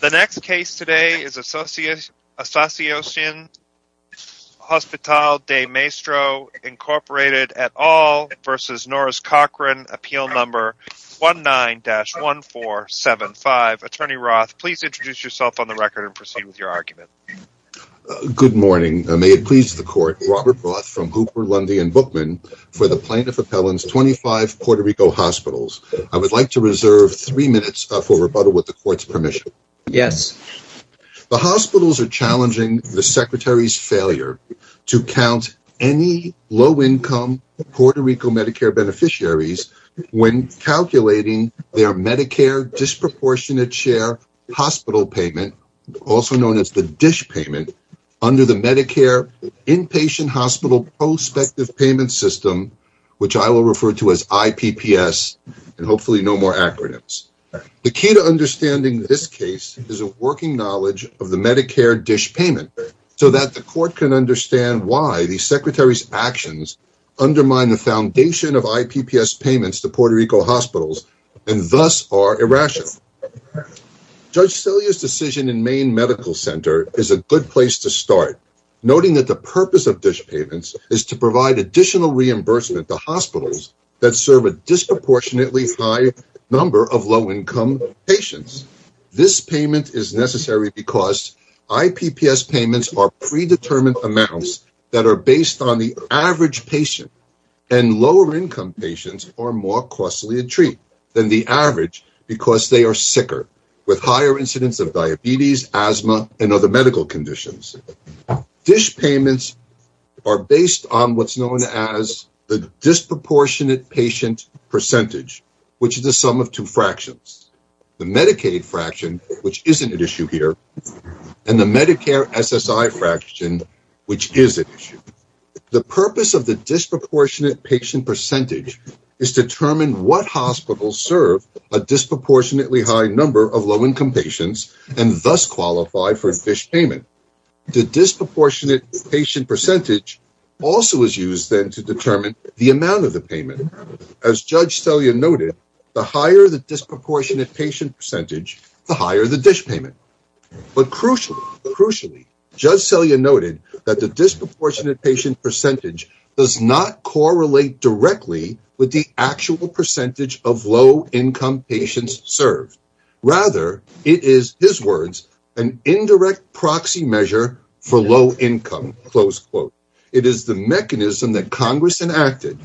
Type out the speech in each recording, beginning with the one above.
The next case today is Associacion Hospital del Maestro, Inc. et al. v. Norris Cochran, Appeal No. 19-1475. Attorney Roth, please introduce yourself on the record and proceed with your argument. Good morning. May it please the Court, Robert Roth from Hooper, Lundy & Bookman for the Plaintiff Appellant's 25 Puerto Rico Hospitals. I would like to reserve three minutes for rebuttal with the Court's permission. Yes. The hospitals are challenging the Secretary's failure to count any low-income Puerto Rico Medicare beneficiaries when calculating their Medicare disproportionate share hospital payment, also known as the DISH payment, under the Medicare Inpatient Hospital Prospective Payment System, which I will refer to as IPPS, and hopefully no more acronyms. The key to understanding this case is a working knowledge of the Medicare DISH payment so that the Court can understand why the Secretary's actions undermine the foundation of IPPS payments to Puerto Rico hospitals and thus are irrational. Judge Celia's decision in Maine Medical Center is a good place to start, noting that the hospitals that serve a disproportionately high number of low-income patients. This payment is necessary because IPPS payments are predetermined amounts that are based on the average patient, and lower-income patients are more costly a treat than the average because they are sicker, with higher incidence of diabetes, asthma, and other medical conditions. DISH payments are based on what's known as the disproportionate patient percentage, which is the sum of two fractions. The Medicaid fraction, which isn't at issue here, and the Medicare SSI fraction, which is at issue. The purpose of the disproportionate patient percentage is to determine what hospitals serve a disproportionately high number of low-income patients and thus qualify for a DISH payment. The disproportionate patient percentage also is used then to determine the amount of the payment. As Judge Celia noted, the higher the disproportionate patient percentage, the higher the DISH payment. But crucially, Judge Celia noted that the disproportionate patient percentage does not serve low-income patients. Rather, it is, his words, an indirect proxy measure for low-income. It is the mechanism that Congress enacted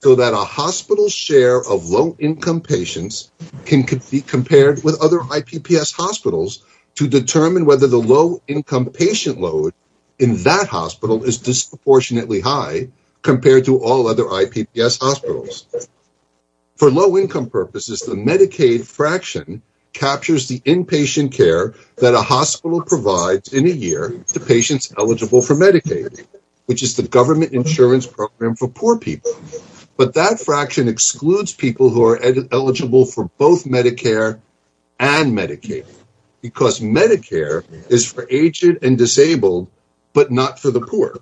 so that a hospital's share of low-income patients can be compared with other IPPS hospitals to determine whether the low-income patient load in that hospital is disproportionately high compared to all other IPPS hospitals. For low-income purposes, the Medicaid fraction captures the inpatient care that a hospital provides in a year to patients eligible for Medicaid, which is the government insurance program for poor people. But that fraction excludes people who are eligible for both Medicare and Medicaid because Medicare is for aged and disabled, but not for the poor.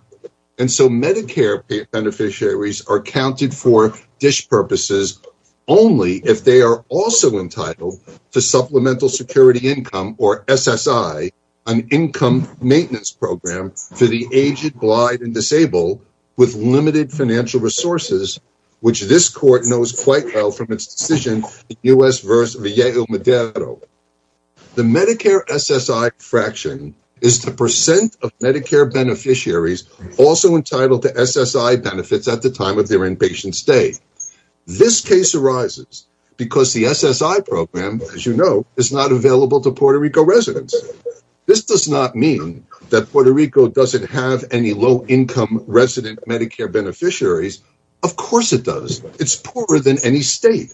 And so Medicare beneficiaries are counted for DISH purposes only if they are also entitled to Supplemental Security Income, or SSI, an income maintenance program for the aged, blind, and disabled with limited financial resources, which this Court knows quite well from its decision in U.S. v. Villegas-Medero. The Medicare SSI fraction is the percent of Medicare beneficiaries also entitled to SSI benefits at the time of their inpatient stay. This case arises because the SSI program, as you know, is not available to Puerto Rico residents. This does not mean that Puerto Rico doesn't have any low-income resident Medicare beneficiaries. Of course it does. It's poorer than any state.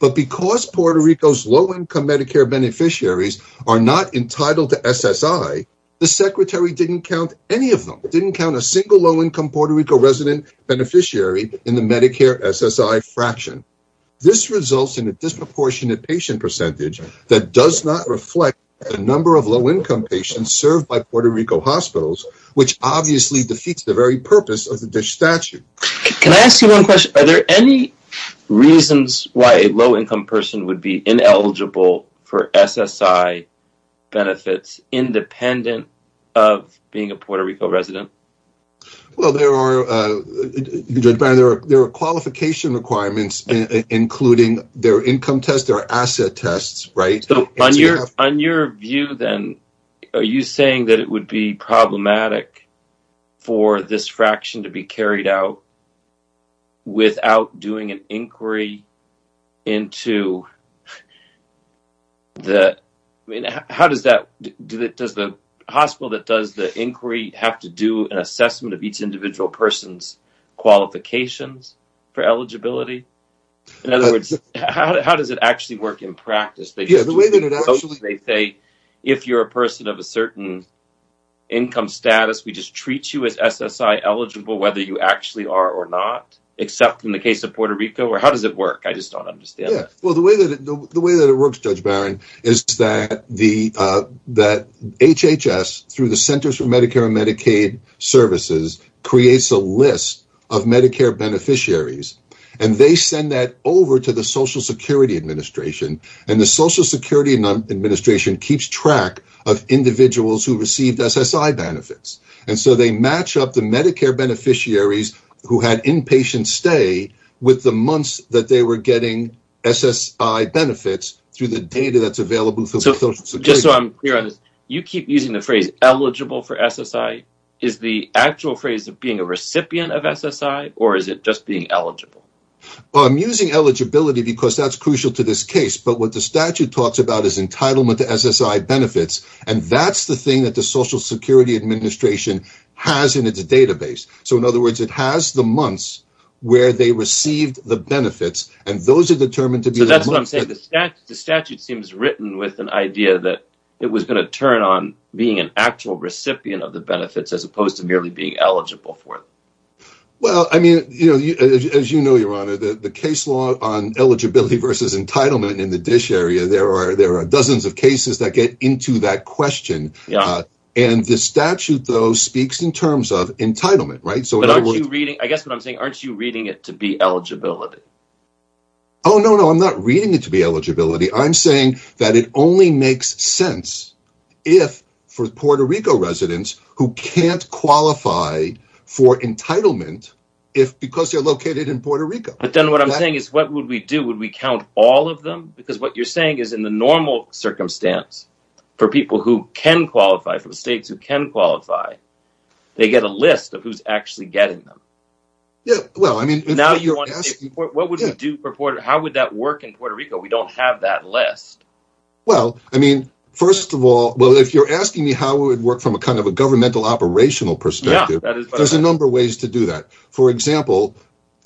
But because Puerto Rico's low-income Medicare beneficiaries are not entitled to SSI, the Secretary didn't count any of them. Didn't count a single low-income Puerto Rico resident beneficiary in the Medicare SSI fraction. This results in a disproportionate patient percentage that does not reflect the number of low-income patients served by Puerto Rico hospitals, which obviously defeats the very purpose of the DISH statute. Can I ask you one question? Are there any reasons why a low-income person would be ineligible for SSI benefits independent of being a Puerto Rico resident? Well, there are qualification requirements including their income test, their asset test, right? So on your view then, are you saying that it would be problematic for this fraction to be carried out without doing an inquiry into the – I mean, how does that – does the hospital that does the inquiry have to do an assessment of each individual person's qualifications for eligibility? In other words, how does it actually work in practice? Yeah, the way that it actually – They say if you're a person of a certain income status, we just treat you as SSI eligible whether you actually are or not except in the case of Puerto Rico or how does it work? I just don't understand. Yeah. Well, the way that it works, Judge Barron, is that HHS through the Centers for Medicare and Medicaid Services creates a list of Medicare beneficiaries and they send that over to the Social Security Administration keeps track of individuals who received SSI benefits and so they match up the Medicare beneficiaries who had inpatient stay with the months that they were getting SSI benefits through the data that's available through Social Security. Just so I'm clear on this, you keep using the phrase eligible for SSI. Is the actual phrase being a recipient of SSI or is it just being eligible? I'm using eligibility because that's crucial to this case but what the statute talks about is entitlement to SSI benefits and that's the thing that the Social Security Administration has in its database. So in other words, it has the months where they received the benefits and those are determined to be the months that – So that's what I'm saying. The statute seems written with an idea that it was going to turn on being an actual recipient of the benefits as opposed to merely being eligible for it. Well, I mean, as you know, your honor, the case law on eligibility versus entitlement in the dish area, there are dozens of cases that get into that question and the statute though speaks in terms of entitlement, right? I guess what I'm saying, aren't you reading it to be eligibility? Oh, no, no. I'm not reading it to be eligibility. I'm saying that it only makes sense if for Puerto Rico residents who can't qualify for entitlement because they're located in Puerto Rico. But then what I'm saying is what would we do? Would we count all of them? Because what you're saying is in the normal circumstance for people who can qualify, for the states who can qualify, they get a list of who's actually getting them. Yeah. Well, I mean – Now you're asking – What would we do for Puerto Rico? How would that work in Puerto Rico? We don't have that list. Well, I mean, first of all, well, if you're asking me how it would work from a kind of a governmental operational perspective, there's a number of ways to do that. For example,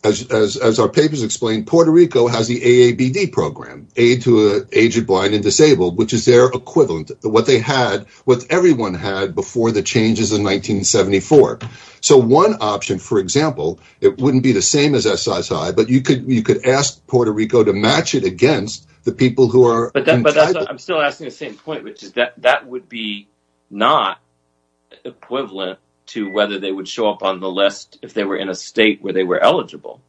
as our papers explain, Puerto Rico has the AABD program, Aid to the Aged, Blind, and Disabled, which is their equivalent, what they had, what everyone had before the changes in 1974. So one option, for example, it wouldn't be the same as SISI, but you could ask Puerto Rico to match it against the people who are entitled – But I'm still asking the same point, which is that that would be not equivalent to whether they would show up on the list if they were in a state where they were eligible.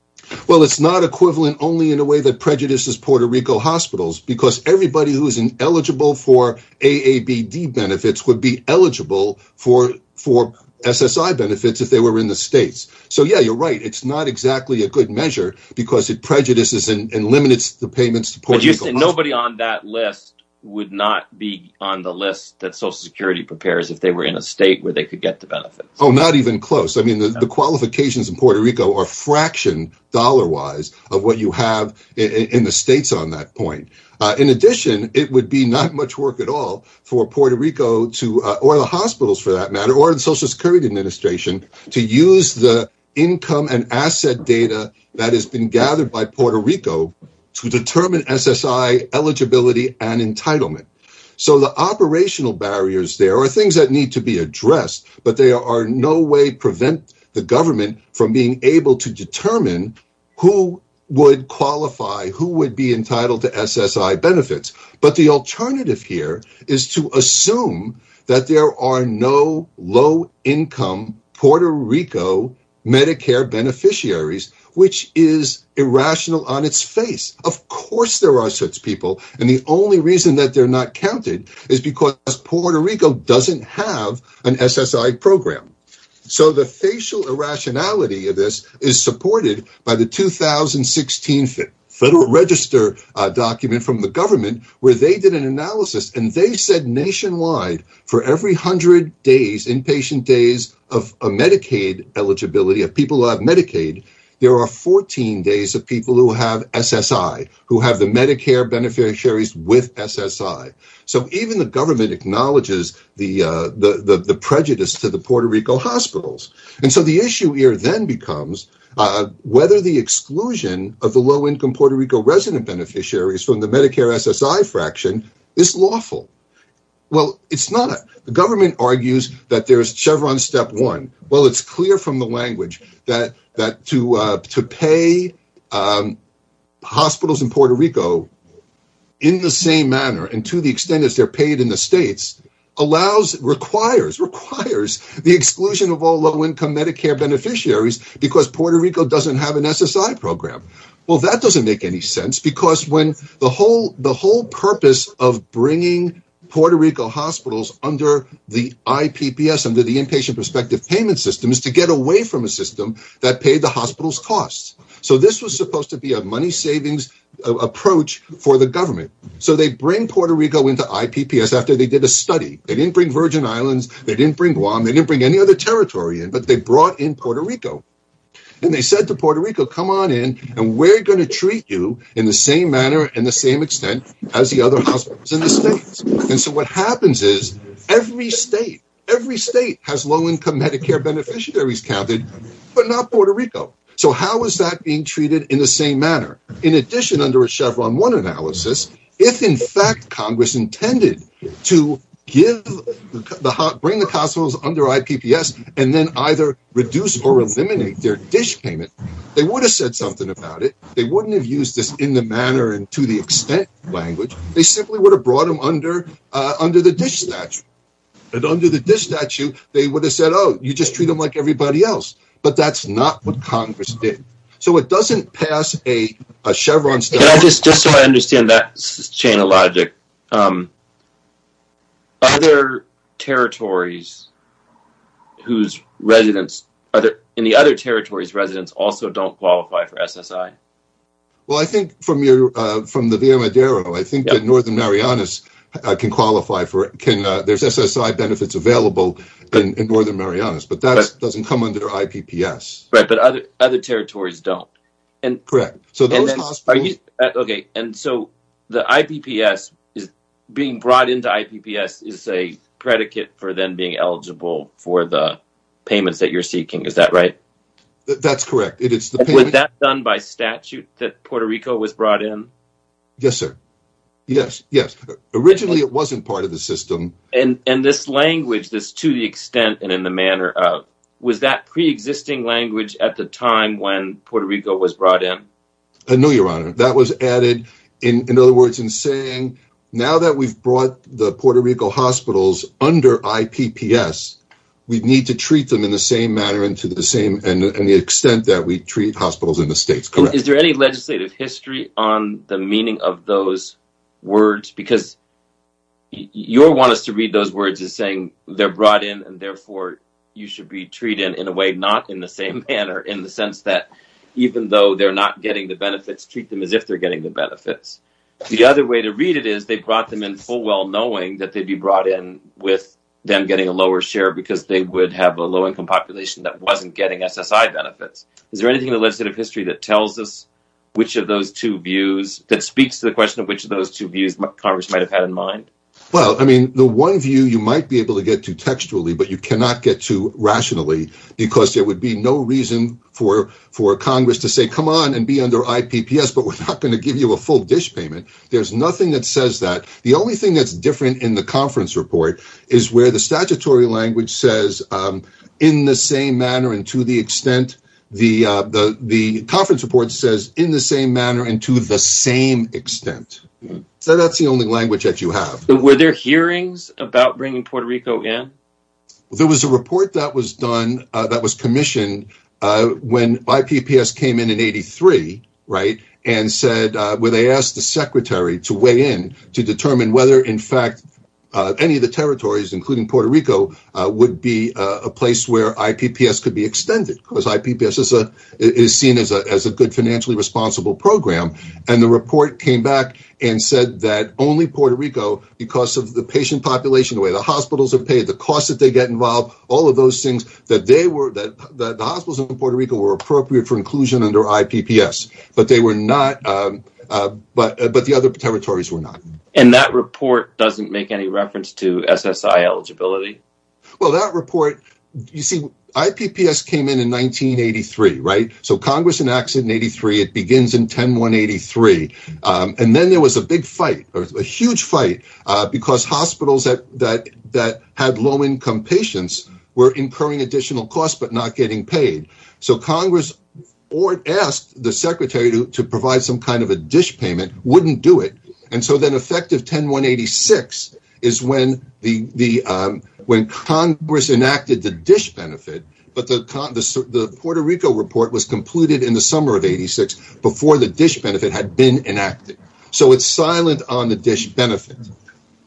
Well, it's not equivalent only in a way that prejudices Puerto Rico hospitals because everybody who is eligible for AABD benefits would be eligible for SSI benefits if they were in the states. So, yeah, you're right. It's not exactly a good measure because it prejudices and limits the payments to Puerto Rico hospitals. But you said nobody on that list would not be on the list that Social Security prepares if they were in a state where they could get the benefits. Oh, not even close. I mean, the qualifications in Puerto Rico are fractioned dollar-wise of what you have in the states on that point. In addition, it would be not much work at all for Puerto Rico to – or the hospitals for that matter, or the Social Security Administration to use the income and asset data that has been gathered by Puerto Rico to determine SSI eligibility and entitlement. So the operational barriers there are things that need to be addressed, but they are in no way prevent the government from being able to determine who would qualify, who would be entitled to SSI benefits. But the alternative here is to assume that there are no low-income Puerto Rico Medicare beneficiaries, which is irrational on its face. Of course there are such people, and the only reason that they're not counted is because Puerto Rico doesn't have an SSI program. So the facial irrationality of this is supported by the 2016 Federal Register document from the government where they did an analysis and they said nationwide for every hundred days, inpatient days of Medicaid eligibility of people who have Medicaid, there are 14 days of people who have SSI, who have the Medicare beneficiaries with SSI. So even the government acknowledges the prejudice to the Puerto Rico hospitals. And so the issue here then becomes whether the exclusion of the low-income Puerto Rico resident beneficiaries from the Medicare SSI fraction is lawful. Well, it's not. The government argues that there's Chevron step one. Well, it's clear from the language that to pay hospitals in Puerto Rico in the same manner and to the extent that they're paid in the states requires the exclusion of all low-income Medicare beneficiaries because Puerto Rico doesn't have an SSI program. Well, that doesn't make any sense because the whole purpose of bringing Puerto Rico hospitals under the IPPS, under the Inpatient Prospective Payment System, is to get away from a system that paid the hospital's costs. So this was supposed to be a money savings approach for the government. So they bring Puerto Rico into IPPS after they did a study. They didn't bring Virgin Islands. They didn't bring Guam. They didn't bring any other territory in, but they brought in Puerto Rico. And they said to Puerto Rico, come on in and we're going to treat you in the same manner and the same extent as the other hospitals in the states. And so what happens is every state, every state has low-income Medicare beneficiaries counted, but not Puerto Rico. So how is that being treated in the same manner? In addition, under a Chevron one analysis, if in fact Congress intended to bring the their dish payment, they would have said something about it. They wouldn't have used this in the manner and to the extent language. They simply would have brought them under the dish statute. And under the dish statute, they would have said, oh, you just treat them like everybody else. But that's not what Congress did. So it doesn't pass a Chevron study. Just so I understand that chain of logic, are there territories whose residents, in the other territories, residents also don't qualify for SSI? Well, I think from the Via Madero, I think that Northern Marianas can qualify for it. There's SSI benefits available in Northern Marianas, but that doesn't come under IPPS. Right, but other territories don't. Correct. Okay, and so the IPPS, being brought into IPPS is a predicate for them being eligible for the payments that you're seeking, is that right? That's correct. Was that done by statute that Puerto Rico was brought in? Yes, sir. Yes, yes. Originally, it wasn't part of the system. And this language, this to the extent and in the manner of, was that preexisting language at the time when Puerto Rico was brought in? No, Your Honor. That was added, in other words, in saying now that we've brought the Puerto Rico hospitals under IPPS, we need to treat them in the same manner and to the same extent that we treat hospitals in the States. Is there any legislative history on the meaning of those words? Because your want us to read those words as saying they're brought in and therefore you should be treated in a way not in the same manner in the sense that even though they're not getting the benefits, treat them as if they're getting the benefits. The other way to read it is they brought them in full well knowing that they'd be brought in with them getting a lower share because they would have a low income population that wasn't getting SSI benefits. Is there anything in the legislative history that tells us which of those two views, that speaks to the question of which of those two views Congress might have had in mind? Well, I mean, the one view you might be able to get to textually, but you cannot get to rationally because there would be no reason for Congress to say, come on and be under IPPS, but we're not going to give you a full dish payment. There's nothing that says that. The only thing that's different in the conference report is where the statutory language says in the same manner and to the extent, the conference report says in the same manner and to the same extent. So that's the only language that you have. Were there hearings about bringing Puerto Rico in? There was a report that was done that was commissioned when IPPS came in in 83, right, and said where they asked the secretary to weigh in to determine whether in fact any of the territories, including Puerto Rico, would be a place where IPPS could be extended because IPPS is seen as a good financially responsible program and the report came back and said that only Puerto Rico because of the patient population, the way the hospitals are paid, the cost that they get involved, all of those things, that the hospitals in Puerto Rico were appropriate for inclusion under IPPS, but the other territories were not. And that report doesn't make any reference to SSI eligibility? Well, that report, you see, IPPS came in in 1983, right, so Congress enacts it in 83. It begins in 10-1-83 and then there was a big fight, a huge fight, because hospitals that had low-income patients were incurring additional costs but not getting paid. So Congress asked the secretary to provide some kind of a dish payment, wouldn't do it, and so then effective 10-1-86 is when Congress enacted the dish benefit, but the Puerto Rico report was completed in the summer of 86 before the dish benefit had been enacted. So it's silent on the dish benefit.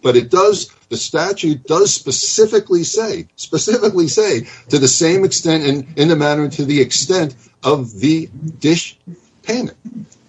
But it does, the statute does specifically say, specifically say, to the same extent in the matter and to the extent of the dish payment.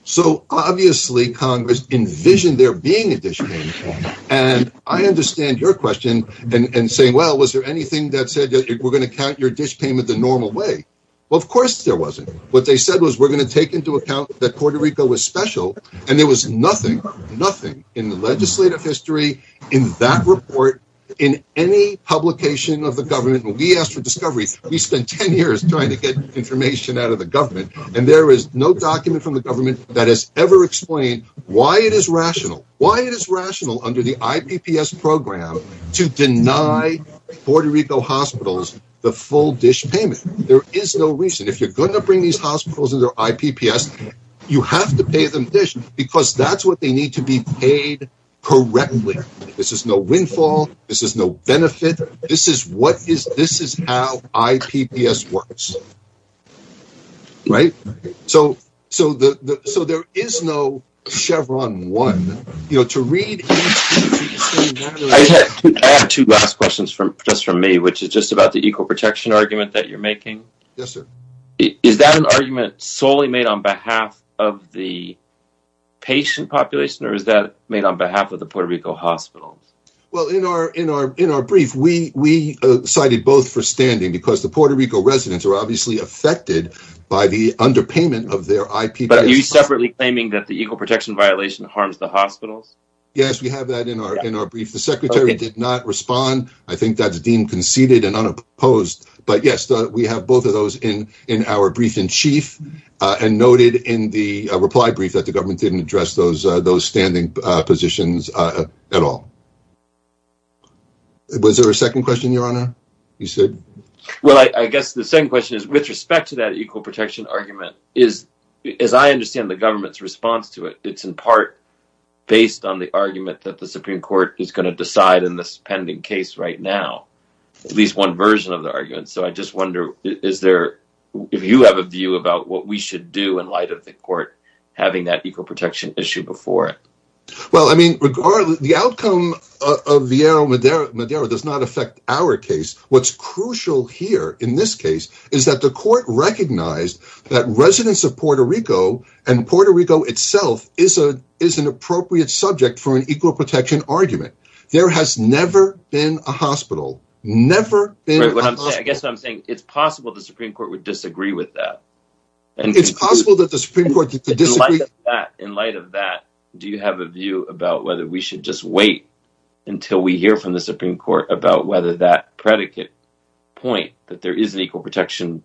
So obviously Congress envisioned there being a dish payment and I understand your question and saying, well, was there anything that said we're going to count your dish payment the normal way? Well, of course there wasn't. What they said was we're going to take into account that Puerto Rico was special and there was nothing, nothing in the legislative history, in that report, in any publication of the government. When we asked for discoveries, we spent 10 years trying to get information out of the government and there is no document from the government that has ever explained why it is rational, why it is rational under the IPPS program to deny Puerto Rico hospitals the full dish payment. There is no reason. If you're going to bring these hospitals under IPPS, you have to pay them dish because that's what they need to be paid correctly. This is no windfall. This is no benefit. This is what is, this is how IPPS works. Right? So, so the, so there is no Chevron one, you know, to read. I have two last questions from just from me, which is just about the equal protection argument that you're making. Yes, sir. Is that an argument solely made on behalf of the patient population or is that made on behalf of the Puerto Rico hospitals? Well, in our, in our, in our brief, we, we cited both for standing because the Puerto Rico residents are obviously affected by the underpayment of their IPPS. But are you separately claiming that the equal protection violation harms the hospitals? Yes, we have that in our, in our brief. The secretary did not respond. I think that's deemed conceded and unopposed, but yes, we have both of those in, in our brief in chief and noted in the reply brief that the government didn't address those, those standing positions at all. Was there a second question, your honor? You said, well, I guess the second question is with respect to that equal protection argument is, as I understand the government's response to it, it's in part based on the argument that the Supreme Court is going to decide in this pending case right now, at least one version of the argument. So I just wonder, is there, if you have a view about what we should do in light of the court having that equal protection issue before it? Well, I mean, regardless, the outcome of Vieira Madero does not affect our case. What's crucial here in this case is that the court recognized that residents of Puerto Rico and Puerto Rico itself is a, is an appropriate subject for an equal protection argument. There has never been a hospital, never. I guess what I'm saying, it's possible the Supreme Court would disagree with that. It's possible that the Supreme Court could disagree. In light of that, do you have a view about whether we should just wait until we hear from the Supreme Court about whether that predicate point that there is an equal protection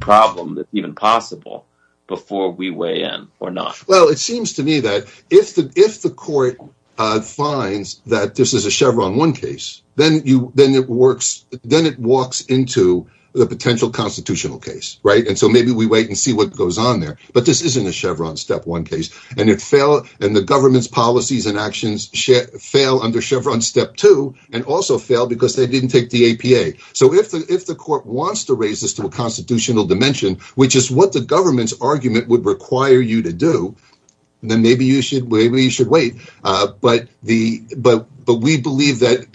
problem that's even possible before we weigh in or not? Well, it seems to me that if the, if the court finds that this is a Chevron one case, then you, then it works, then it walks into the potential constitutional case, right? And so maybe we wait and see what goes on there, but this isn't a Chevron step one case and it fell and the government's policies and actions fail under Chevron step two and also fail because they didn't take the APA. So if the, if the court wants to raise this to a constitutional dimension, which is what the government's argument would require you to do, then maybe you should, maybe you should wait. But the, but, but we believe that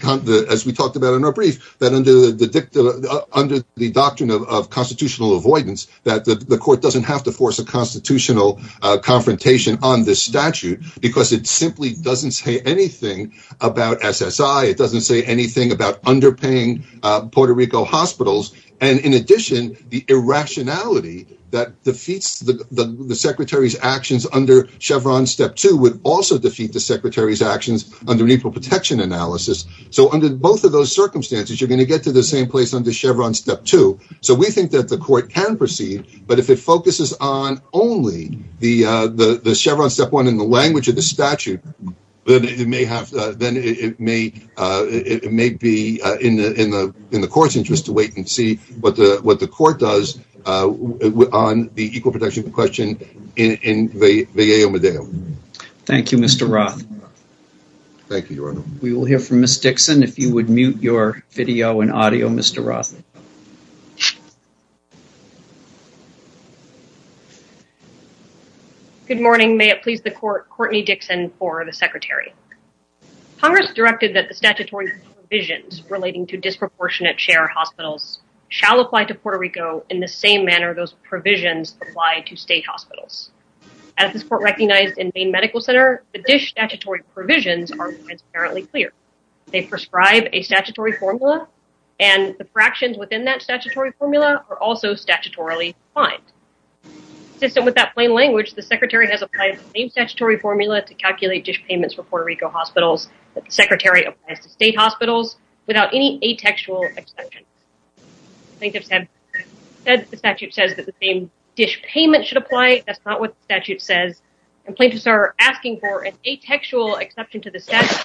as we talked about in our brief, that under the, under the doctrine of constitutional avoidance, that the court doesn't have to force a constitutional confrontation on this statute because it simply doesn't say anything about SSI. It doesn't say anything about underpaying Puerto Rico hospitals. And in addition, the irrationality that defeats the, the, the secretary's actions under Chevron step two would also defeat the secretary's actions under mutual protection analysis. So under both of those circumstances, you're going to get to the same place under Chevron step two. So we think that the court can proceed, but if it focuses on only the the, the Chevron step one in the language of the statute, then it may have, then it may, it may be in the, in the, in the court's interest to wait and see what the, what the court does on the equal protection question in Vallejo, Medellin. Thank you, Mr. Roth. Thank you, Your Honor. We will hear from Ms. Dixon. If you would mute your video and audio, Mr. Roth. Good morning. May it please the court, Courtney Dixon for the secretary. Congress directed that the statutory provisions relating to disproportionate share hospitals shall apply to Puerto Rico in the same manner those provisions apply to state hospitals. As this court recognized in the medical center, the dish statutory provisions are apparently clear. They prescribe a statutory formula and the fractions within that statutory formula are also statutorily fined. So with that plain language, the secretary has applied the same statutory formula to calculate dish payments for Puerto Rico hospitals. The secretary applies to state hospitals without any atextual exception. I think I've said that the statute says that the same dish payment should apply. That's not what the statute says. And plaintiffs are asking for an atextual exception to the statute.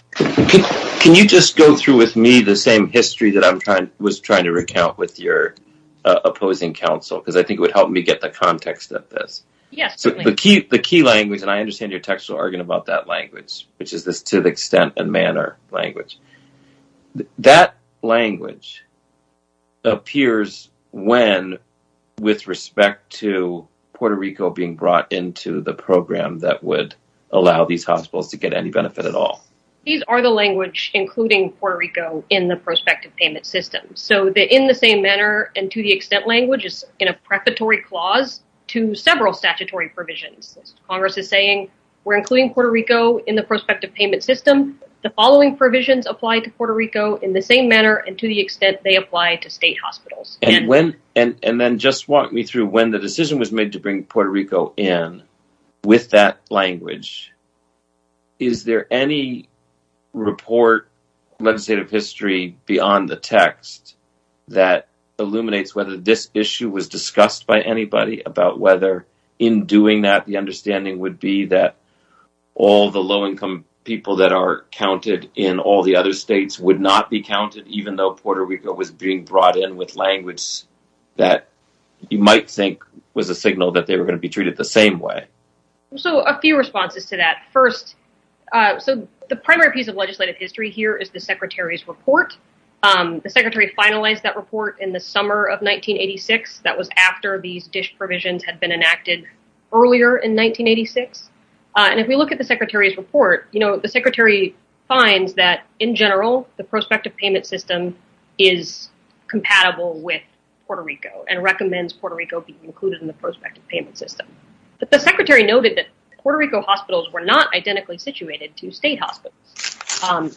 Can you just go through with me the same history that I was trying to recount with your opposing counsel? Because I think it would help me get the context of this. Yes, certainly. The key language, and I understand your textual argument about that language, which is this to the extent and manner language. That language appears when with respect to Puerto Rico being brought into the program that would allow these hospitals to get any benefit at all. These are the language including Puerto Rico in the prospective payment system. So they're in the same manner. And to the extent language is in a preparatory clause to several statutory provisions. Congress is saying we're including Puerto Rico in the prospective payment system. The following provisions apply to Puerto Rico in the same manner and to the extent they apply to state hospitals. And then just walk me through when the decision was made to bring Puerto Rico in with that language. Is there any report, legislative history beyond the text that illuminates whether this issue was discussed by anybody about whether in doing that the understanding would be that all the low income people that are counted in all the other states would not be counted even though Puerto Rico was being brought in with language that you might think was a signal that they were going to be treated the same way. So a few responses to that. First, so the primary piece of legislative history here is the secretary's report. The secretary finalized that report in the summer of 1986. That was after these DISH provisions had been enacted earlier in 1986. And if we look at the secretary's report, you know, the secretary finds that in general the prospective payment system is compatible with Puerto Rico and recommends Puerto Rico be included in the prospective payment system. But the secretary noted that Puerto Rico hospitals were not identically situated to state hospitals.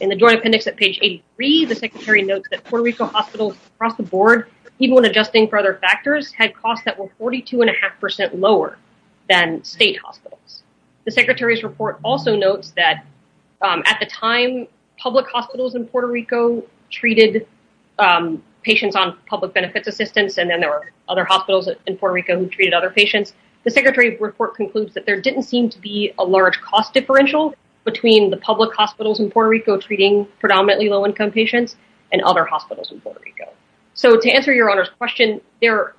In the joint appendix at page 83, the secretary notes that Puerto Rico hospitals across the board, even when adjusting for other factors, had costs that were 42.5 percent lower than state hospitals. The secretary's report also notes that at the time, public hospitals in Puerto Rico treated patients on public benefits assistance, and then there were other hospitals in Puerto Rico who treated other patients. The secretary's report concludes that there didn't seem to be a large cost differential between the public hospitals in Puerto Rico treating predominantly low income patients and other hospitals in Puerto Rico. So to answer your honor's question, there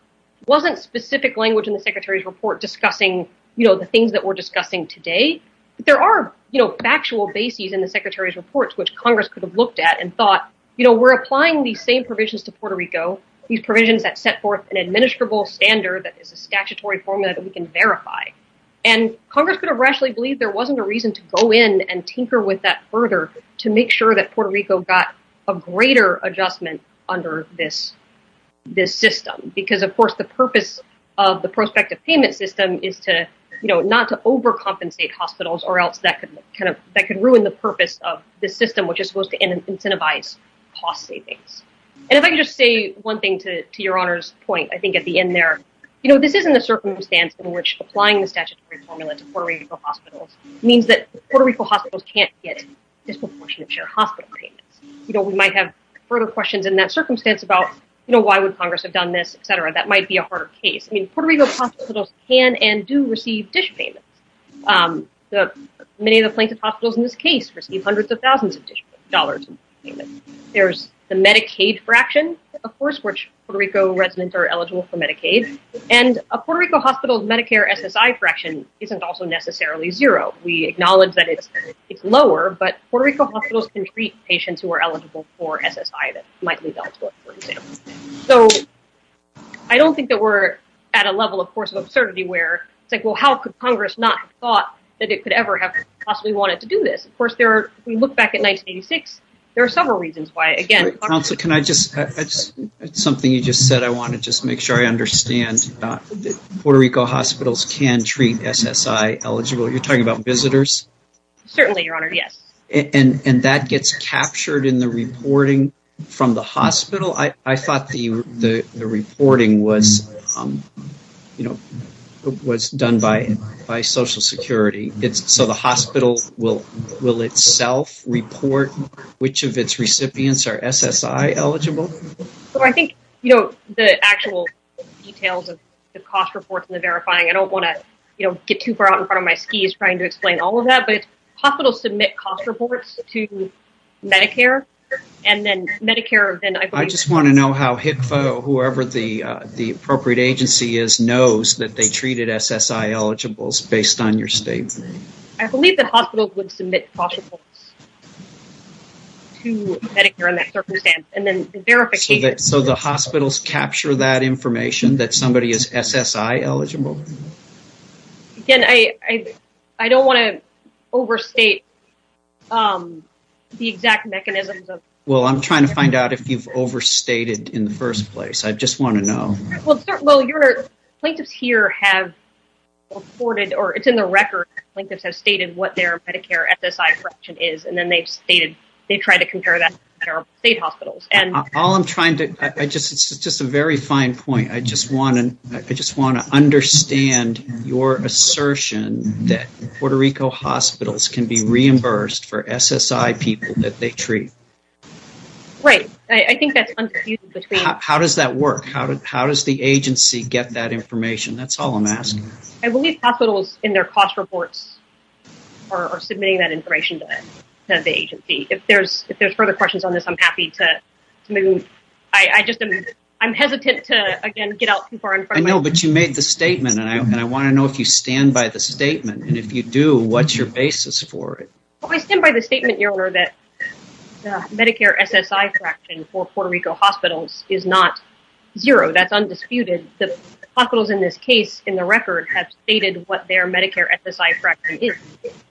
wasn't specific language in the secretary's reporting, you know, the things that we're discussing today. There are, you know, factual bases in the secretary's reports, which Congress could have looked at and thought, you know, we're applying these same provisions to Puerto Rico, these provisions that set forth an administrable standard that is a statutory formula that we can verify. And Congress could have rationally believed there wasn't a reason to go in and tinker with that further to make sure that Puerto Rico got a greater adjustment under this system. Because of course, the purpose of the prospective payment system is to, you know, not to overcompensate hospitals or else that could kind of, that could ruin the purpose of the system, which is supposed to incentivize cost savings. And if I could just say one thing to your honor's point, I think at the end there, you know, this isn't a circumstance in which applying the statutory formula to Puerto Rico hospitals means that Puerto Rico hospitals can't get disproportionate share hospital payments. You know, we might have further questions in that circumstance about, you know, why would Congress have done this, et cetera. That might be a harder case. I mean, Puerto Rico hospitals can and do receive dish payments. Many of the plaintiff hospitals in this case receive hundreds of thousands of dollars in payment. There's the Medicaid fraction, of course, which Puerto Rico residents are eligible for Medicaid. And a Puerto Rico hospital's Medicare SSI fraction isn't also necessarily zero. We acknowledge that it's lower, but Puerto Rico hospitals can treat patients who are eligible for SSI that might be eligible, for example. So I don't think that we're at a level, of course, of absurdity where it's like, well, how could Congress not have thought that it could ever have possibly wanted to do this? Of course, there are, we look back at 1986. There are several reasons why, again. Counselor, can I just, it's something you just said. I want to just make sure I understand that Puerto Rico hospitals can treat SSI eligible. You're talking about visitors? Certainly, your honor. Yes. And that gets captured in the reporting from the hospital. I thought the reporting was, you know, was done by Social Security. So the hospital will itself report which of its recipients are SSI eligible? Well, I think, you know, the actual details of the cost reports and the verifying, I don't want to, you know, get too far out in front of my skis trying to explain all of that, but hospitals submit cost reports to Medicare. I just want to know how HCFA or whoever the appropriate agency is knows that they treated SSI eligibles based on your statement. I believe that hospitals would submit cost reports to Medicare in that circumstance and then verify. So the hospitals capture that information that somebody is SSI eligible? Again, I don't want to overstate the exact mechanisms. Well, I'm trying to find out if you've overstated in the first place. I just want to know. Well, your plaintiffs here have reported or it's in the record. Plaintiffs have stated what their Medicare SSI correction is, and then they've stated they tried to compare that to state hospitals. All I'm trying to, it's just a very fine point. I just want to understand your assertion that Puerto Rico hospitals can be reimbursed for SSI people that they treat. Right. I think that's confusing. How does that work? How does the agency get that information? That's all I'm asking. I believe hospitals in their cost reports are submitting that information to the agency. If there's further questions on this, I'm happy to move. I'm hesitant to, again, get out too far in front. I know, but you made the statement, and I want to know if you stand by the statement. And if you do, what's your basis for it? I stand by the statement, Your Honor, that the Medicare SSI correction for Puerto Rico hospitals is not zero. That's undisputed. The hospitals in this case, in the record, have stated what their Medicare SSI correction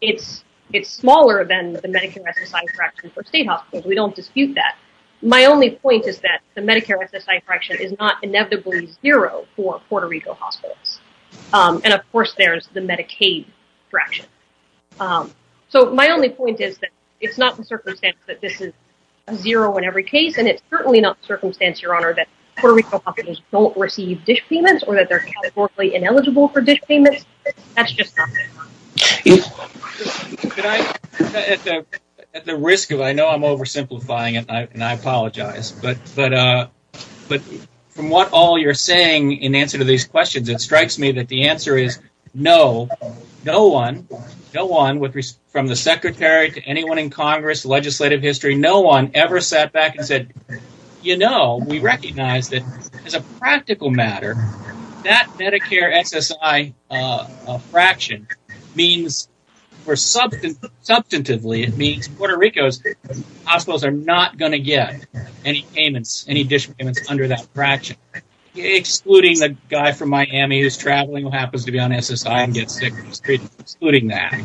is. It's smaller than the Medicare SSI correction for state hospitals. We don't dispute that. My only point is that the Medicare SSI correction is not inevitably zero for Puerto Rico hospitals. And, of course, there's the Medicaid correction. So my only point is that it's not the circumstance that this is zero in every case, and it's certainly not the circumstance, Your Honor, that Puerto Rico hospitals don't receive dish payments or that they're categorically ineligible for dish payments. That's just not the case. At the risk of – I know I'm oversimplifying, and I apologize. But from what all you're saying in answer to these questions, it strikes me that the answer is no. No one, from the Secretary to anyone in Congress, legislative history, no one ever sat back and said, you know, we recognize that as a practical matter, that Medicare SSI fraction means – or substantively, it means Puerto Rico's hospitals are not going to get any payments, any dish payments under that fraction, excluding the guy from Miami who's traveling who happens to be on SSI and gets sick on the street, excluding that.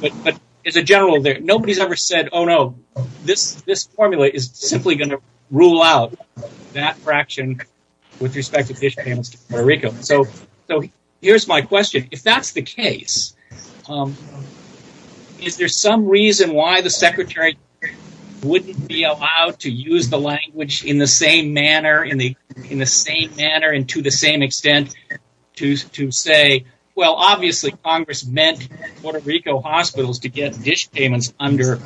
But as a general, nobody's ever said, oh, no, this formula is simply going to rule out that fraction with respect to dish payments to Puerto Rico. So here's my question. If that's the case, is there some reason why the Secretary wouldn't be allowed to use the language in the same manner and to the same extent to say, well, obviously, Congress meant Puerto Rico hospitals to get dish payments under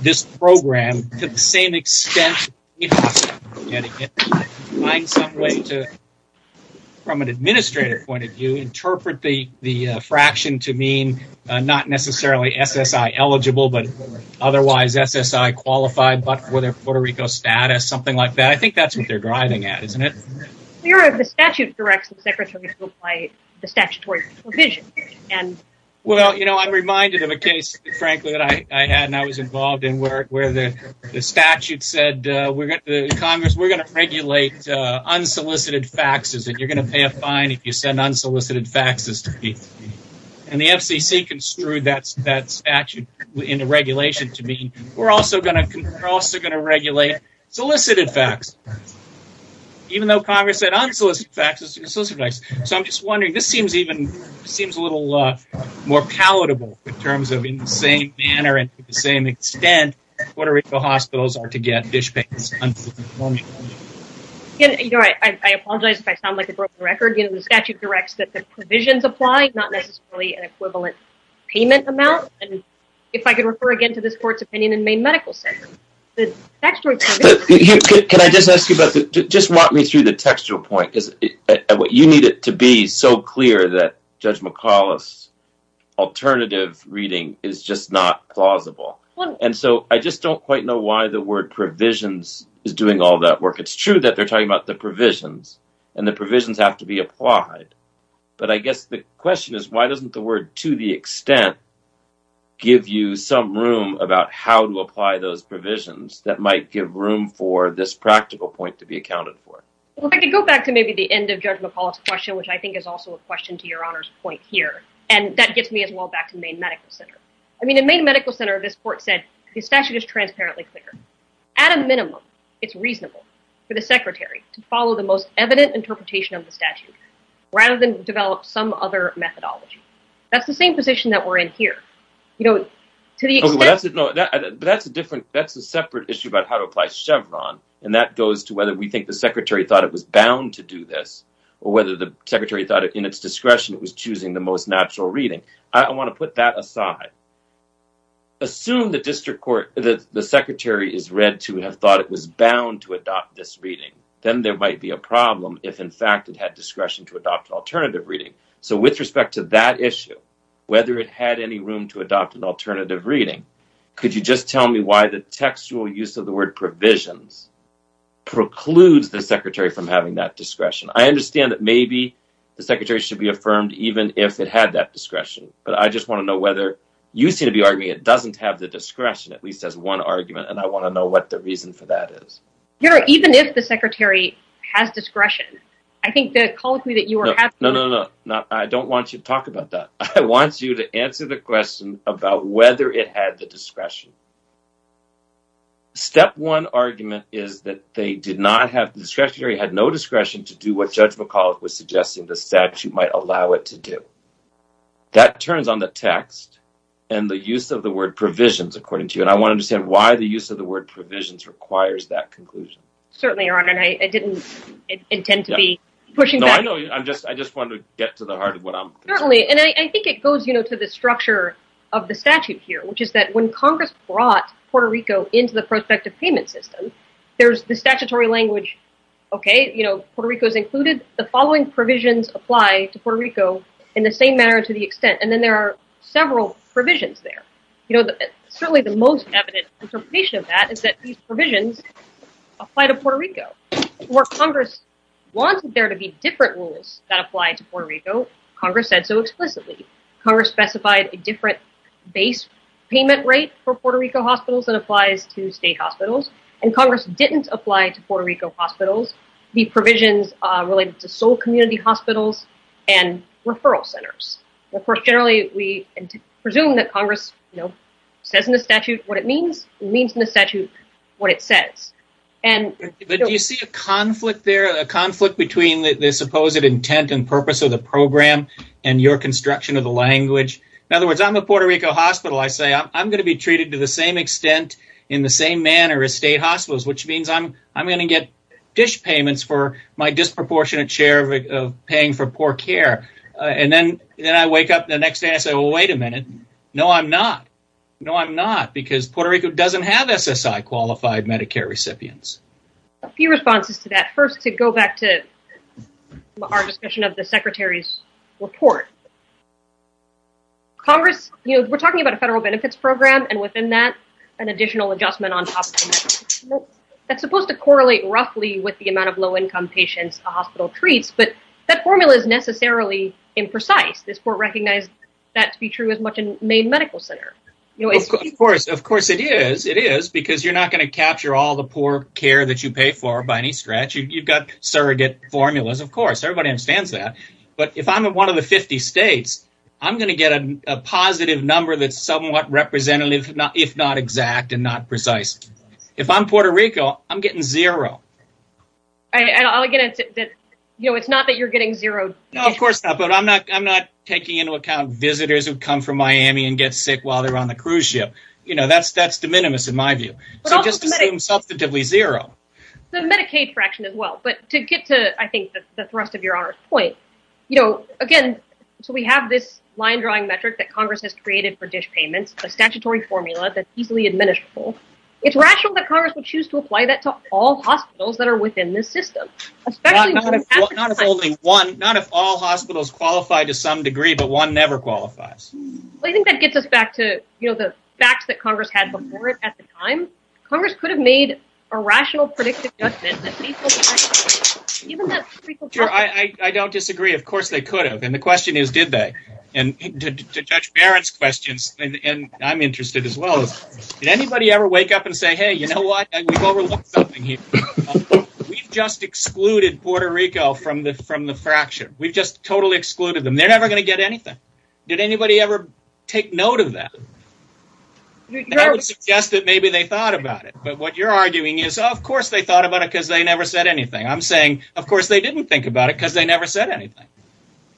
this program to the same extent. Find some way to, from an administrator point of view, interpret the fraction to mean not necessarily SSI eligible but otherwise SSI qualified but for their Puerto Rico status, something like that. I think that's what they're driving at, isn't it? The statute directs the Secretary to apply the statutory provision. Well, you know, I'm reminded of a case, frankly, that I had and I was involved in where the statute said, Congress, we're going to regulate unsolicited faxes and you're going to pay a fine if you send unsolicited faxes to me. And the FCC construed that statute in the regulation to mean we're also going to regulate solicited faxes, even though Congress said unsolicited faxes. So I'm just wondering, this seems a little more palatable in terms of in the same manner and to the same extent Puerto Rico hospitals are to get dish payments. I apologize if I sound like a broken record. The statute directs that the provisions apply, not necessarily an equivalent payment amount. And if I could refer again to this court's opinion in Maine Medical Center. Can I just ask you about that? Just walk me through the textual point. You need it to be so clear that Judge McAuliffe's alternative reading is just not plausible. And so I just don't quite know why the word provisions is doing all that work. It's true that they're talking about the provisions and the provisions have to be applied. But I guess the question is, why doesn't the word to the extent give you some room about how to apply those provisions that might give room for this practical point to be accounted for? I could go back to maybe the end of Judge McAuliffe's question, which I think is also a question to your Honor's point here. And that gets me as well back to Maine Medical Center. I mean, in Maine Medical Center, this court said the statute is transparently clear. At a minimum, it's reasonable for the secretary to follow the most evident interpretation of the statute rather than develop some other methodology. That's the same position that we're in here. But that's a different, that's a separate issue about how to apply Chevron. And that goes to whether we think the secretary thought it was bound to do this or whether the secretary thought in its discretion it was choosing the most natural reading. I want to put that aside. Assume the district court, the secretary is read to have thought it was bound to adopt this reading. Then there might be a problem if in fact it had discretion to adopt alternative reading. So with respect to that issue, whether it had any room to adopt an alternative reading, could you just tell me why the textual use of the word provisions precludes the secretary from having that discretion? I understand that maybe the secretary should be affirmed even if it had that discretion. But I just want to know whether, you seem to be arguing it doesn't have the discretion at least as one argument, and I want to know what the reason for that is. Your Honor, even if the secretary has discretion, I think the call to me that you were having No, no, no. I don't want you to talk about that. I want you to answer the question about whether it had the discretion. Step one argument is that the secretary had no discretion to do what Judge McAuliffe was suggesting the statute might allow it to do. That turns on the text and the use of the word provisions, according to you, and I want to understand why the use of the word provisions requires that conclusion. Certainly, Your Honor, and I didn't intend to be pushing back. I just want to get to the heart of what I'm... Certainly, and I think it goes to the structure of the statute here, which is that when Congress brought Puerto Rico into the prospective payment system, there's the statutory language, okay, Puerto Rico is included, the following provisions apply to Puerto Rico in the same manner to the extent, and then there are several provisions there. Certainly the most evident interpretation of that is that these provisions apply to Puerto Rico. Where Congress wanted there to be different rules that apply to Puerto Rico, Congress said so explicitly. Congress specified a different base payment rate for Puerto Rico hospitals than applies to state hospitals, and Congress didn't apply to Puerto Rico hospitals the provisions related to sole community hospitals and referral centers. Of course, generally, we presume that Congress, you know, says in the statute what it means, it means in the statute what it says, and... But do you see a conflict there, a conflict between the supposed intent and purpose of the program and your construction of the language? In other words, I'm a Puerto Rico hospital. I say I'm going to be treated to the same extent in the same manner as state hospitals, which means I'm going to get dish payments for my disproportionate share of paying for poor care, and then I wake up the next day and say, well, wait a minute, no, I'm not. No, I'm not, because Puerto Rico doesn't have SSI-qualified Medicare recipients. A few responses to that. First, to go back to our discussion of the secretary's report, Congress, you know, we're talking about a federal benefits program, and within that, an additional adjustment on top of that. That's supposed to correlate roughly with the amount of low-income patients a hospital treats, but that formula is necessarily imprecise. This court recognized that to be true as much in Maine Medical Center. Of course, of course it is. It is, because you're not going to capture all the poor care that you pay for by any stretch. You've got surrogate formulas, of course. Everybody understands that. But if I'm in one of the 50 states, I'm going to get a positive number that's somewhat representative, if not exact and not precise. If I'm Puerto Rico, I'm getting zero. And again, it's not that you're getting zero. No, of course not. But I'm not taking into account visitors who come from Miami and get sick while they're on the cruise ship. You know, that's de minimis in my view. So just assume substantively zero. The Medicaid fraction as well. But to get to, I think, the thrust of your honor's point, you know, again, so we have this line-drawing metric that Congress has created for dish payments, a statutory formula that's easily administrable. It's rational that Congress would choose to apply that to all hospitals that are within this system, not if all hospitals qualify to some degree, but one never qualifies. Well, I think that gets us back to, you know, the facts that Congress had before it at the time. Congress could have made a rational, predictive judgment. I don't disagree. Of course they could have. And the question is, did they? And to judge Barrett's questions, and I'm interested as well, did anybody ever wake up and say, hey, you know what? We've overlooked something here. We've just excluded Puerto Rico from the fraction. We've just totally excluded them. They're never going to get anything. Did anybody ever take note of that? I would suggest that maybe they thought about it. But what you're arguing is, oh, of course they thought about it because they never said anything. I'm saying, of course they didn't think about it because they never said anything.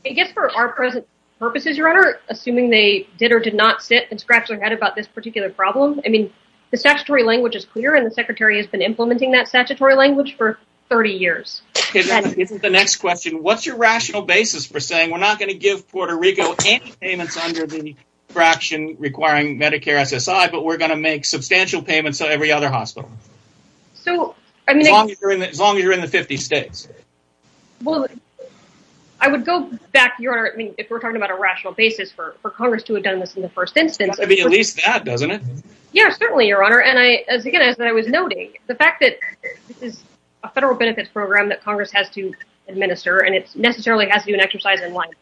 I guess for our present purposes, your honor, assuming they did or did not sit and scratch their head about this particular problem, I mean, the statutory language is clear, and the secretary has been implementing that statutory language for 30 years. The next question, what's your rational basis for saying, we're not going to give Puerto Rico any payments under the fraction requiring Medicare SSI, but we're going to make substantial payments to every other hospital as long as you're in the 50 states? Well, I would go back, your honor, if we're talking about a rational basis for Congress to have done this in the first instance. I mean, at least that, doesn't it? Yeah, certainly, your honor. And, again, as I was noting, the fact that this is a federal benefits program that Congress has to administer and it necessarily has to do an exercise in life,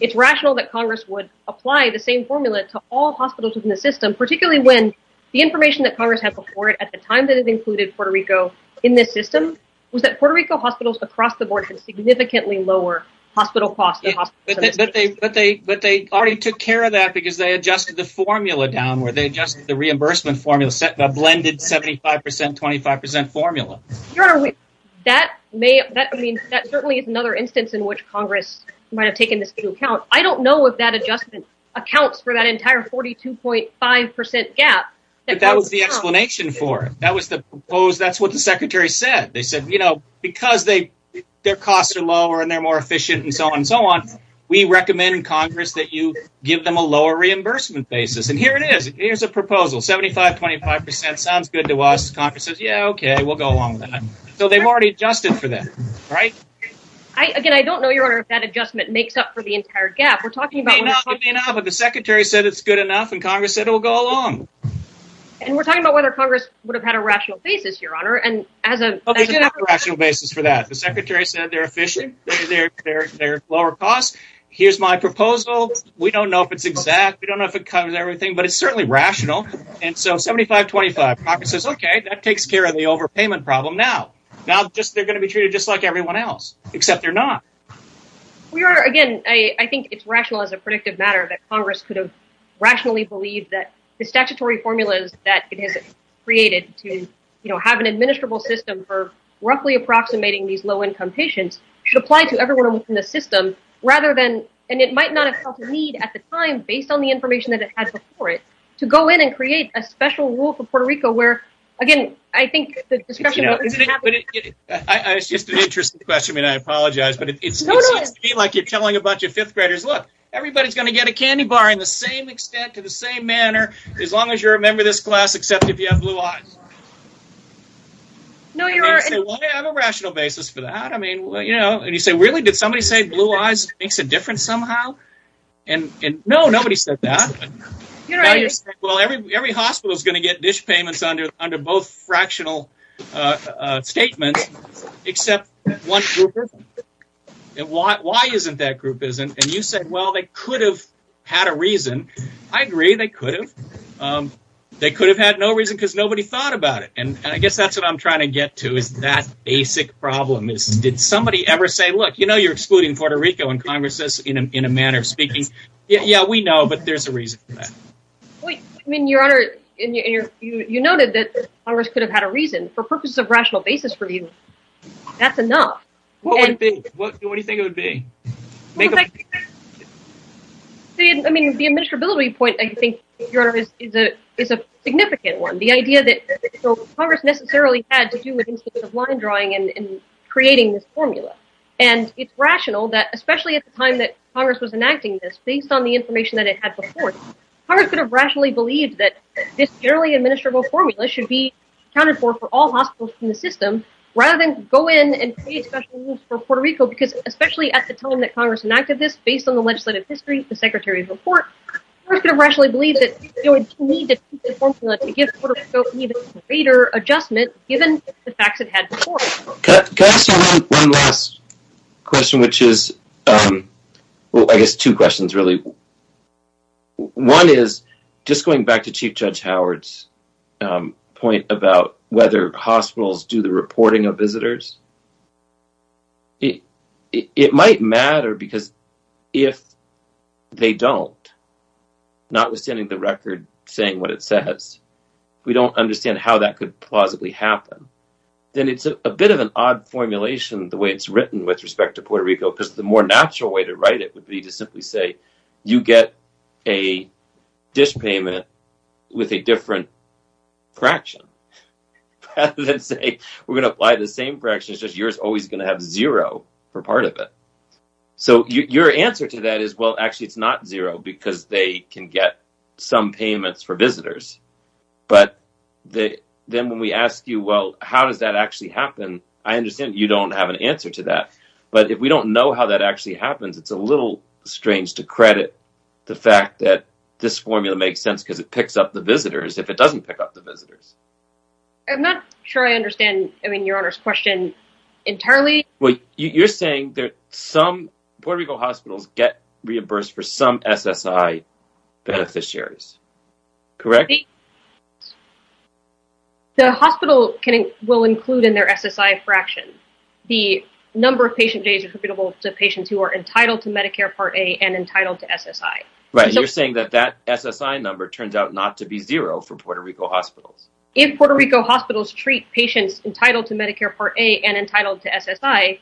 it's rational that Congress would apply the same formula to all hospitals within the system, particularly when the information that Congress had before it at the time that it included Puerto Rico in this system was that Puerto Rico hospitals across the board can significantly lower hospital costs. But they already took care of that because they adjusted the formula down where they adjusted the reimbursement formula, a blended 75%, 25% formula. Your honor, that certainly is another instance in which Congress might have taken this into account. I don't know if that adjustment accounts for that entire 42.5% gap. But that was the explanation for it. That's what the secretary said. They said, you know, because their costs are lower and they're more efficient and so on and so on, we recommend in Congress that you give them a lower reimbursement basis. And here it is. Here's a proposal. 75%, 25% sounds good to us. Congress says, yeah, okay, we'll go along with that. So they've already adjusted for that, right? Again, I don't know, your honor, if that adjustment makes up for the entire gap. It may not, but the secretary said it's good enough and Congress said it will go along. And we're talking about whether Congress would have had a rational basis, your honor. We do have a rational basis for that. The secretary said they're efficient, they're lower cost. Here's my proposal. We don't know if it's exact. We don't know if it covers everything. But it's certainly rational. And so 75%, 25%. Congress says, okay, that takes care of the overpayment problem now. Now they're going to be treated just like everyone else, except they're not. Your honor, again, I think it's rational as a predictive matter that Congress could have rationally believed that the statutory formulas that it has created to have an administrable system for roughly approximating these low-income patients should apply to everyone in the system, rather than, and it might not have felt the need at the time, based on the information that it had before it, to go in and create a special rule for Puerto Rico where, again, I think the discussion- It's just an interesting question. I mean, I apologize, but it seems to me like you're telling a bunch of fifth graders, look, everybody's going to get a candy bar in the same extent, to the same manner, as long as you're a member of this class, except if you have blue eyes. And they say, well, I have a rational basis for that. I mean, you know, and you say, really? Did somebody say blue eyes makes a difference somehow? And, no, nobody said that. Now you're saying, well, every hospital is going to get dish payments under both fractional statements, except one group isn't. Why isn't that group isn't? And you said, well, they could have had a reason. I agree, they could have. They could have had no reason because nobody thought about it. And I guess that's what I'm trying to get to, is that basic problem. Did somebody ever say, look, you know you're excluding Puerto Rico in Congress in a manner of speaking. Yeah, we know, but there's a reason for that. I mean, Your Honor, you noted that Congress could have had a reason. For purposes of rational basis for you, that's enough. What would it be? What do you think it would be? I mean, the administrability point, I think, Your Honor, is a significant one. The idea that Congress necessarily had to do with line drawing and creating this formula. And it's rational that, especially at the time that Congress was enacting this, based on the information that it had before, Congress could have rationally believed that this generally administrable formula should be accounted for for all hospitals in the system rather than go in and create special rules for Puerto Rico. Because especially at the time that Congress enacted this, based on the legislative history, the Secretary of the Court, Congress could have rationally believed that it would need to keep the formula to give Puerto Rico even greater adjustment, given the facts it had before. Can I ask you one last question, which is, well, I guess two questions, really. One is, just going back to Chief Judge Howard's point about whether hospitals do the reporting of visitors, it might matter because if they don't, notwithstanding the record saying what it says, we don't understand how that could plausibly happen, then it's a bit of an odd formulation, the way it's written with respect to Puerto Rico, because the more natural way to write it would be to simply say you get a dish payment with a different fraction rather than say we're going to apply the same fraction, it's just yours is always going to have zero for part of it. So your answer to that is, well, actually it's not zero because they can get some payments for visitors, but then when we ask you, well, how does that actually happen, I understand you don't have an answer to that, but if we don't know how that actually happens, it's a little strange to credit the fact that this formula makes sense because it picks up the visitors if it doesn't pick up the visitors. I'm not sure I understand your Honor's question entirely. Well, you're saying that some Puerto Rico hospitals get reimbursed for some SSI beneficiaries, correct? The hospital will include in their SSI fraction the number of patient days attributable to patients who are entitled to Medicare Part A and entitled to SSI. Right, you're saying that that SSI number turns out not to be zero for Puerto Rico hospitals. If Puerto Rico hospitals treat patients entitled to Medicare Part A and entitled to SSI,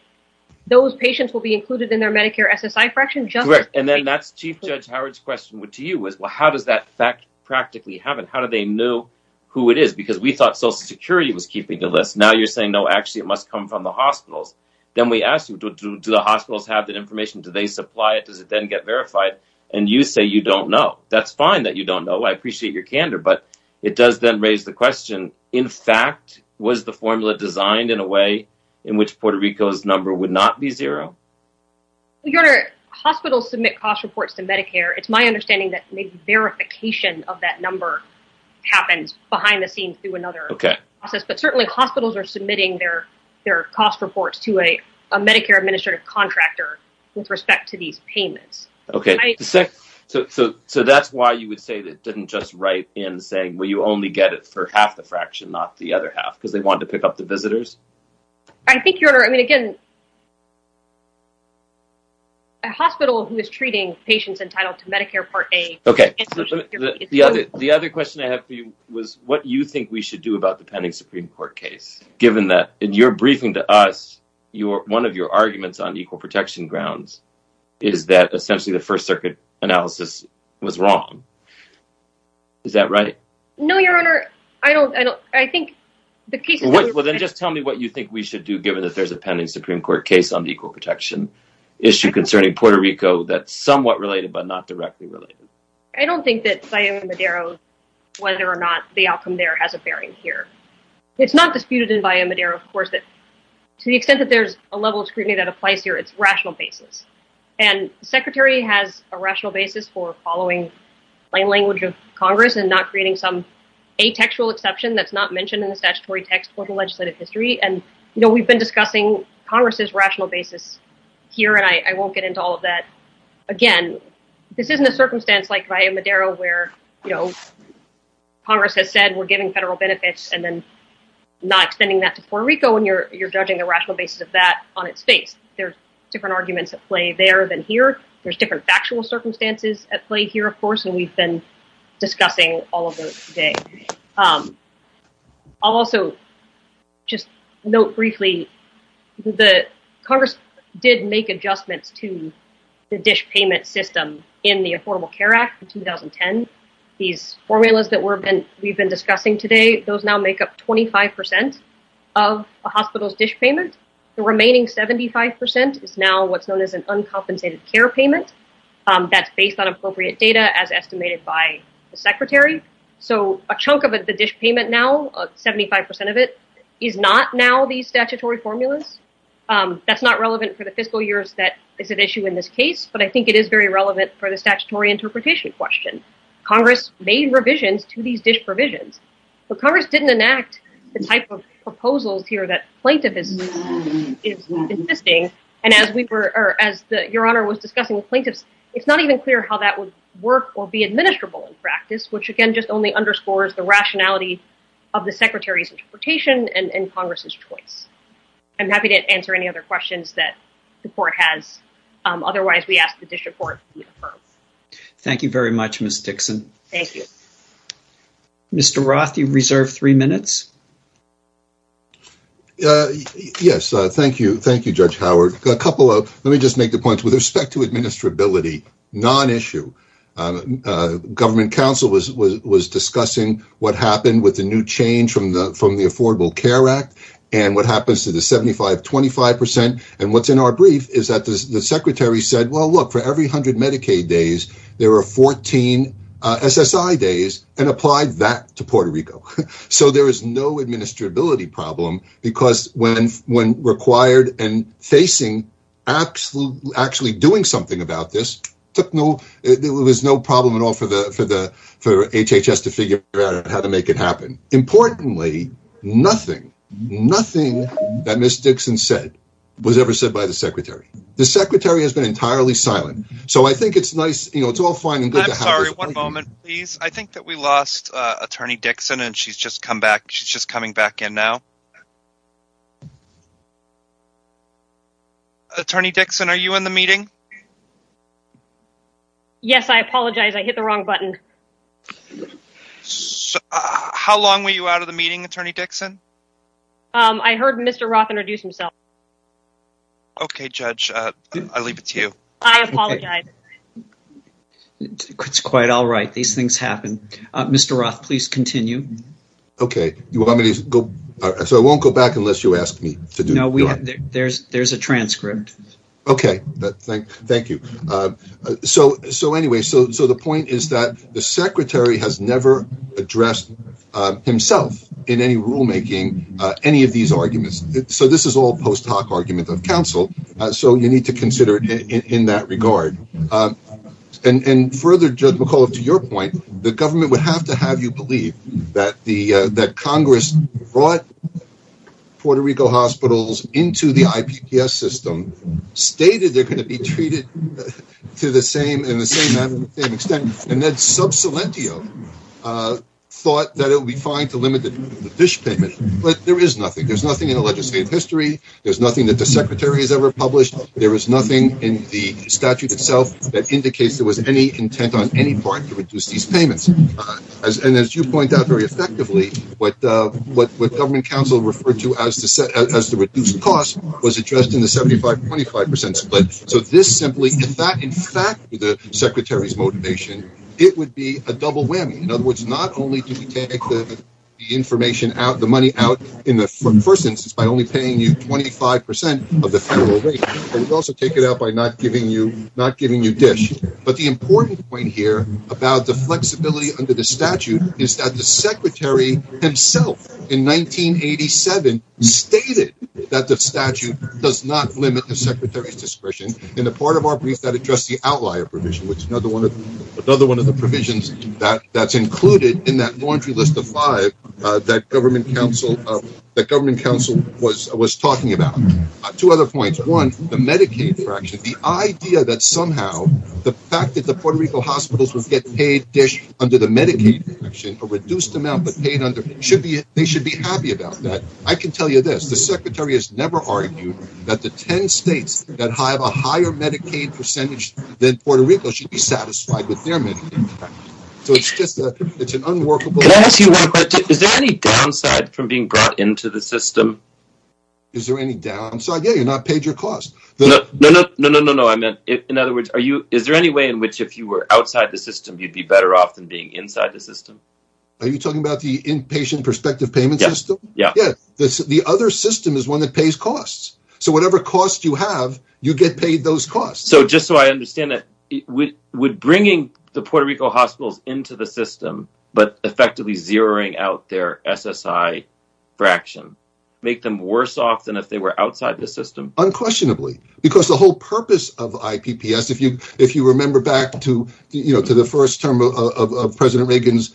those patients will be included in their Medicare SSI fraction. Correct, and then that's Chief Judge Howard's question to you. How does that fact practically happen? How do they know who it is? Because we thought Social Security was keeping the list. Now you're saying, no, actually it must come from the hospitals. Then we ask you, do the hospitals have that information? Do they supply it? Does it then get verified? And you say you don't know. That's fine that you don't know. I appreciate your candor, but it does then raise the question, in fact, was the formula designed in a way in which Puerto Rico's number would not be zero? Your Honor, hospitals submit cost reports to Medicare. It's my understanding that verification of that number happens behind the scenes through another process. But certainly hospitals are submitting their cost reports to a Medicare administrative contractor with respect to these payments. Okay, so that's why you would say that it didn't just write in saying, well, you only get it for half the fraction, not the other half, because they wanted to pick up the visitors? I think, Your Honor, I mean, again, a hospital who is treating patients entitled to Medicare Part A Okay, the other question I have for you was what you think we should do about the pending Supreme Court case, given that in your briefing to us, one of your arguments on equal protection grounds is that essentially the First Circuit analysis was wrong. Is that right? No, Your Honor, I don't. Well, then just tell me what you think we should do, given that there's a pending Supreme Court case on the equal protection issue concerning Puerto Rico that's somewhat related but not directly related. I don't think that Bayo Madero, whether or not the outcome there has a bearing here. It's not disputed in Bayo Madero, of course, that to the extent that there's a level of scrutiny that applies here, it's rational basis. and not creating some atextual exception that's not mentioned in the statutory text or the legislative history. And, you know, we've been discussing Congress's rational basis here, and I won't get into all of that. Again, this isn't a circumstance like Bayo Madero, where, you know, Congress has said we're giving federal benefits and then not extending that to Puerto Rico, and you're judging the rational basis of that on its face. There's different arguments at play there than here. There's different factual circumstances at play here, of course, and that's what we've been discussing all of those today. I'll also just note briefly that Congress did make adjustments to the dish payment system in the Affordable Care Act in 2010. These formulas that we've been discussing today, those now make up 25% of a hospital's dish payment. The remaining 75% is now what's known as an uncompensated care payment. That's based on appropriate data as estimated by the secretary. So a chunk of the dish payment now, 75% of it, is not now these statutory formulas. That's not relevant for the fiscal years that is at issue in this case, but I think it is very relevant for the statutory interpretation question. Congress made revisions to these dish provisions. But Congress didn't enact the type of proposals here that plaintiff is insisting, and as Your Honor was discussing with plaintiffs, it's not even clear how that would work or be administrable in practice, which again just only underscores the rationality of the secretary's interpretation and Congress's choice. I'm happy to answer any other questions that the court has. Otherwise, we ask the district court to be affirmed. Thank you very much, Ms. Dixon. Thank you. Mr. Roth, you reserve three minutes. Yes, thank you. Thank you, Judge Howard. Let me just make the point with respect to administrability, non-issue. Government counsel was discussing what happened with the new change from the Affordable Care Act and what happens to the 75-25%. And what's in our brief is that the secretary said, well, look, for every 100 Medicaid days, there are 14 SSI days, and applied that to Puerto Rico. So there is no administrability problem because when required and facing actually doing something about this, there was no problem at all for HHS to figure out how to make it happen. Importantly, nothing, nothing that Ms. Dixon said was ever said by the secretary. The secretary has been entirely silent. So I think it's nice, you know, it's all fine. I'm sorry, one moment, please. I think that we lost Attorney Dixon, and she's just coming back in now. Attorney Dixon, are you in the meeting? Yes, I apologize. I hit the wrong button. How long were you out of the meeting, Attorney Dixon? I heard Mr. Roth introduce himself. I apologize. It's quite all right. These things happen. Mr. Roth, please continue. Okay. So I won't go back unless you ask me to do it. No, there's a transcript. Okay. Thank you. So anyway, so the point is that the secretary has never addressed himself in any rulemaking any of these arguments. So this is all post hoc argument of counsel. So you need to consider it in that regard. And further, Judge McAuliffe, to your point, the government would have to have you believe that Congress brought Puerto Rico hospitals into the IPPS system, stated they're going to be treated to the same and the same extent, and then sub silentio thought that it would be fine to limit the dish payment. But there is nothing. There's nothing in the legislative history. There's nothing that the secretary has ever published. There is nothing in the statute itself that indicates there was any intent on any part to reduce these payments. And as you point out very effectively, what government counsel referred to as the reduced cost was addressed in the 75-25 percent split. So this simply, if that in fact were the secretary's motivation, it would be a double whammy. In other words, not only did he take the information out, the money out in the first instance by only paying you 25 percent of the federal rate, but he would also take it out by not giving you dish. But the important point here about the flexibility under the statute is that the secretary himself in 1987 stated that the statute does not limit the secretary's discretion. In the part of our brief that addressed the outlier provision, which is another one of the provisions that's included in that laundry list of five that government counsel was talking about. Two other points. One, the Medicaid fraction, the idea that somehow the fact that the Puerto Rico hospitals would get paid dish under the Medicaid fraction, a reduced amount but paid under, they should be happy about that. I can tell you this. The secretary has never argued that the 10 states that have a higher Medicaid percentage than Puerto Rico should be satisfied with their Medicaid. So it's just an unworkable. Can I ask you one question? Is there any downside from being brought into the system? Is there any downside? Yeah, you're not paid your cost. No, no, no, no, no, no. In other words, is there any way in which if you were outside the system, you'd be better off than being inside the system? Are you talking about the inpatient prospective payment system? Yeah. The other system is one that pays costs. So whatever cost you have, you get paid those costs. So just so I understand it, would bringing the Puerto Rico hospitals into the system but effectively zeroing out their SSI fraction make them worse off than if they were outside the system? Unquestionably. Because the whole purpose of IPPS, if you remember back to the first term of President Reagan's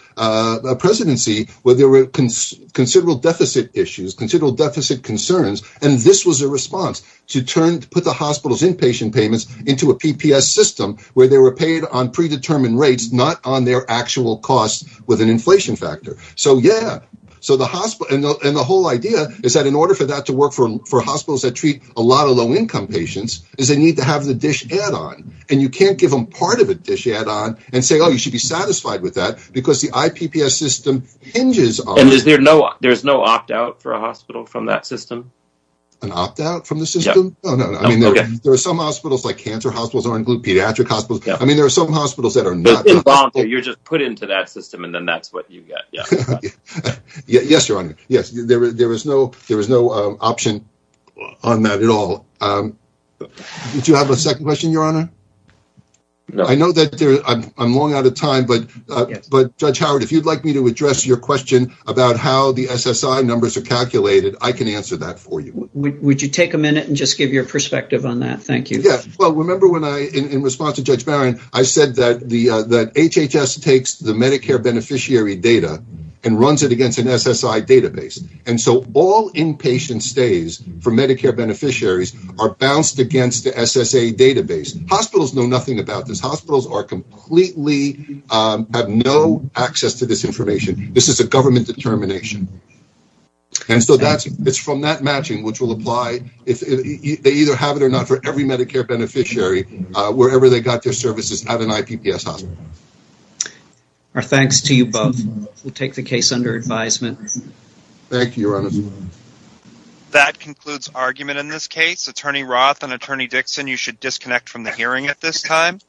presidency where there were considerable deficit issues, considerable deficit concerns, and this was a response to put the hospital's inpatient payments into a PPS system where they were paid on predetermined rates, not on their actual costs with an inflation factor. And the whole idea is that in order for that to work for hospitals that treat a lot of low-income patients is they need to have the dish add-on. And you can't give them part of a dish add-on and say, oh, you should be satisfied with that because the IPPS system hinges on that. And there's no opt-out for a hospital from that system? An opt-out from the system? Yeah. No, no, no. There are some hospitals, like cancer hospitals or in-group pediatric hospitals. I mean, there are some hospitals that are not. You're just put into that system, and then that's what you get. Yeah. Yes, Your Honor. Yes. There was no option on that at all. Did you have a second question, Your Honor? No. I know that I'm long out of time, but Judge Howard, if you'd like me to address your question about how the SSI numbers are calculated, I can answer that for you. Would you take a minute and just give your perspective on that? Thank you. Well, remember when I – in response to Judge Barron, I said that HHS takes the Medicare beneficiary data and runs it against an SSI database. And so all inpatient stays for Medicare beneficiaries are bounced against the SSA database. Hospitals know nothing about this. Hospitals are completely – have no access to this information. This is a government determination. And so that's – it's from that matching which will apply if they either have it or not for every Medicare beneficiary wherever they got their services at an IPPS hospital. Our thanks to you both. We'll take the case under advisement. Thank you, Your Honor. That concludes argument in this case. Attorney Roth and Attorney Dixon, you should disconnect from the hearing at this time.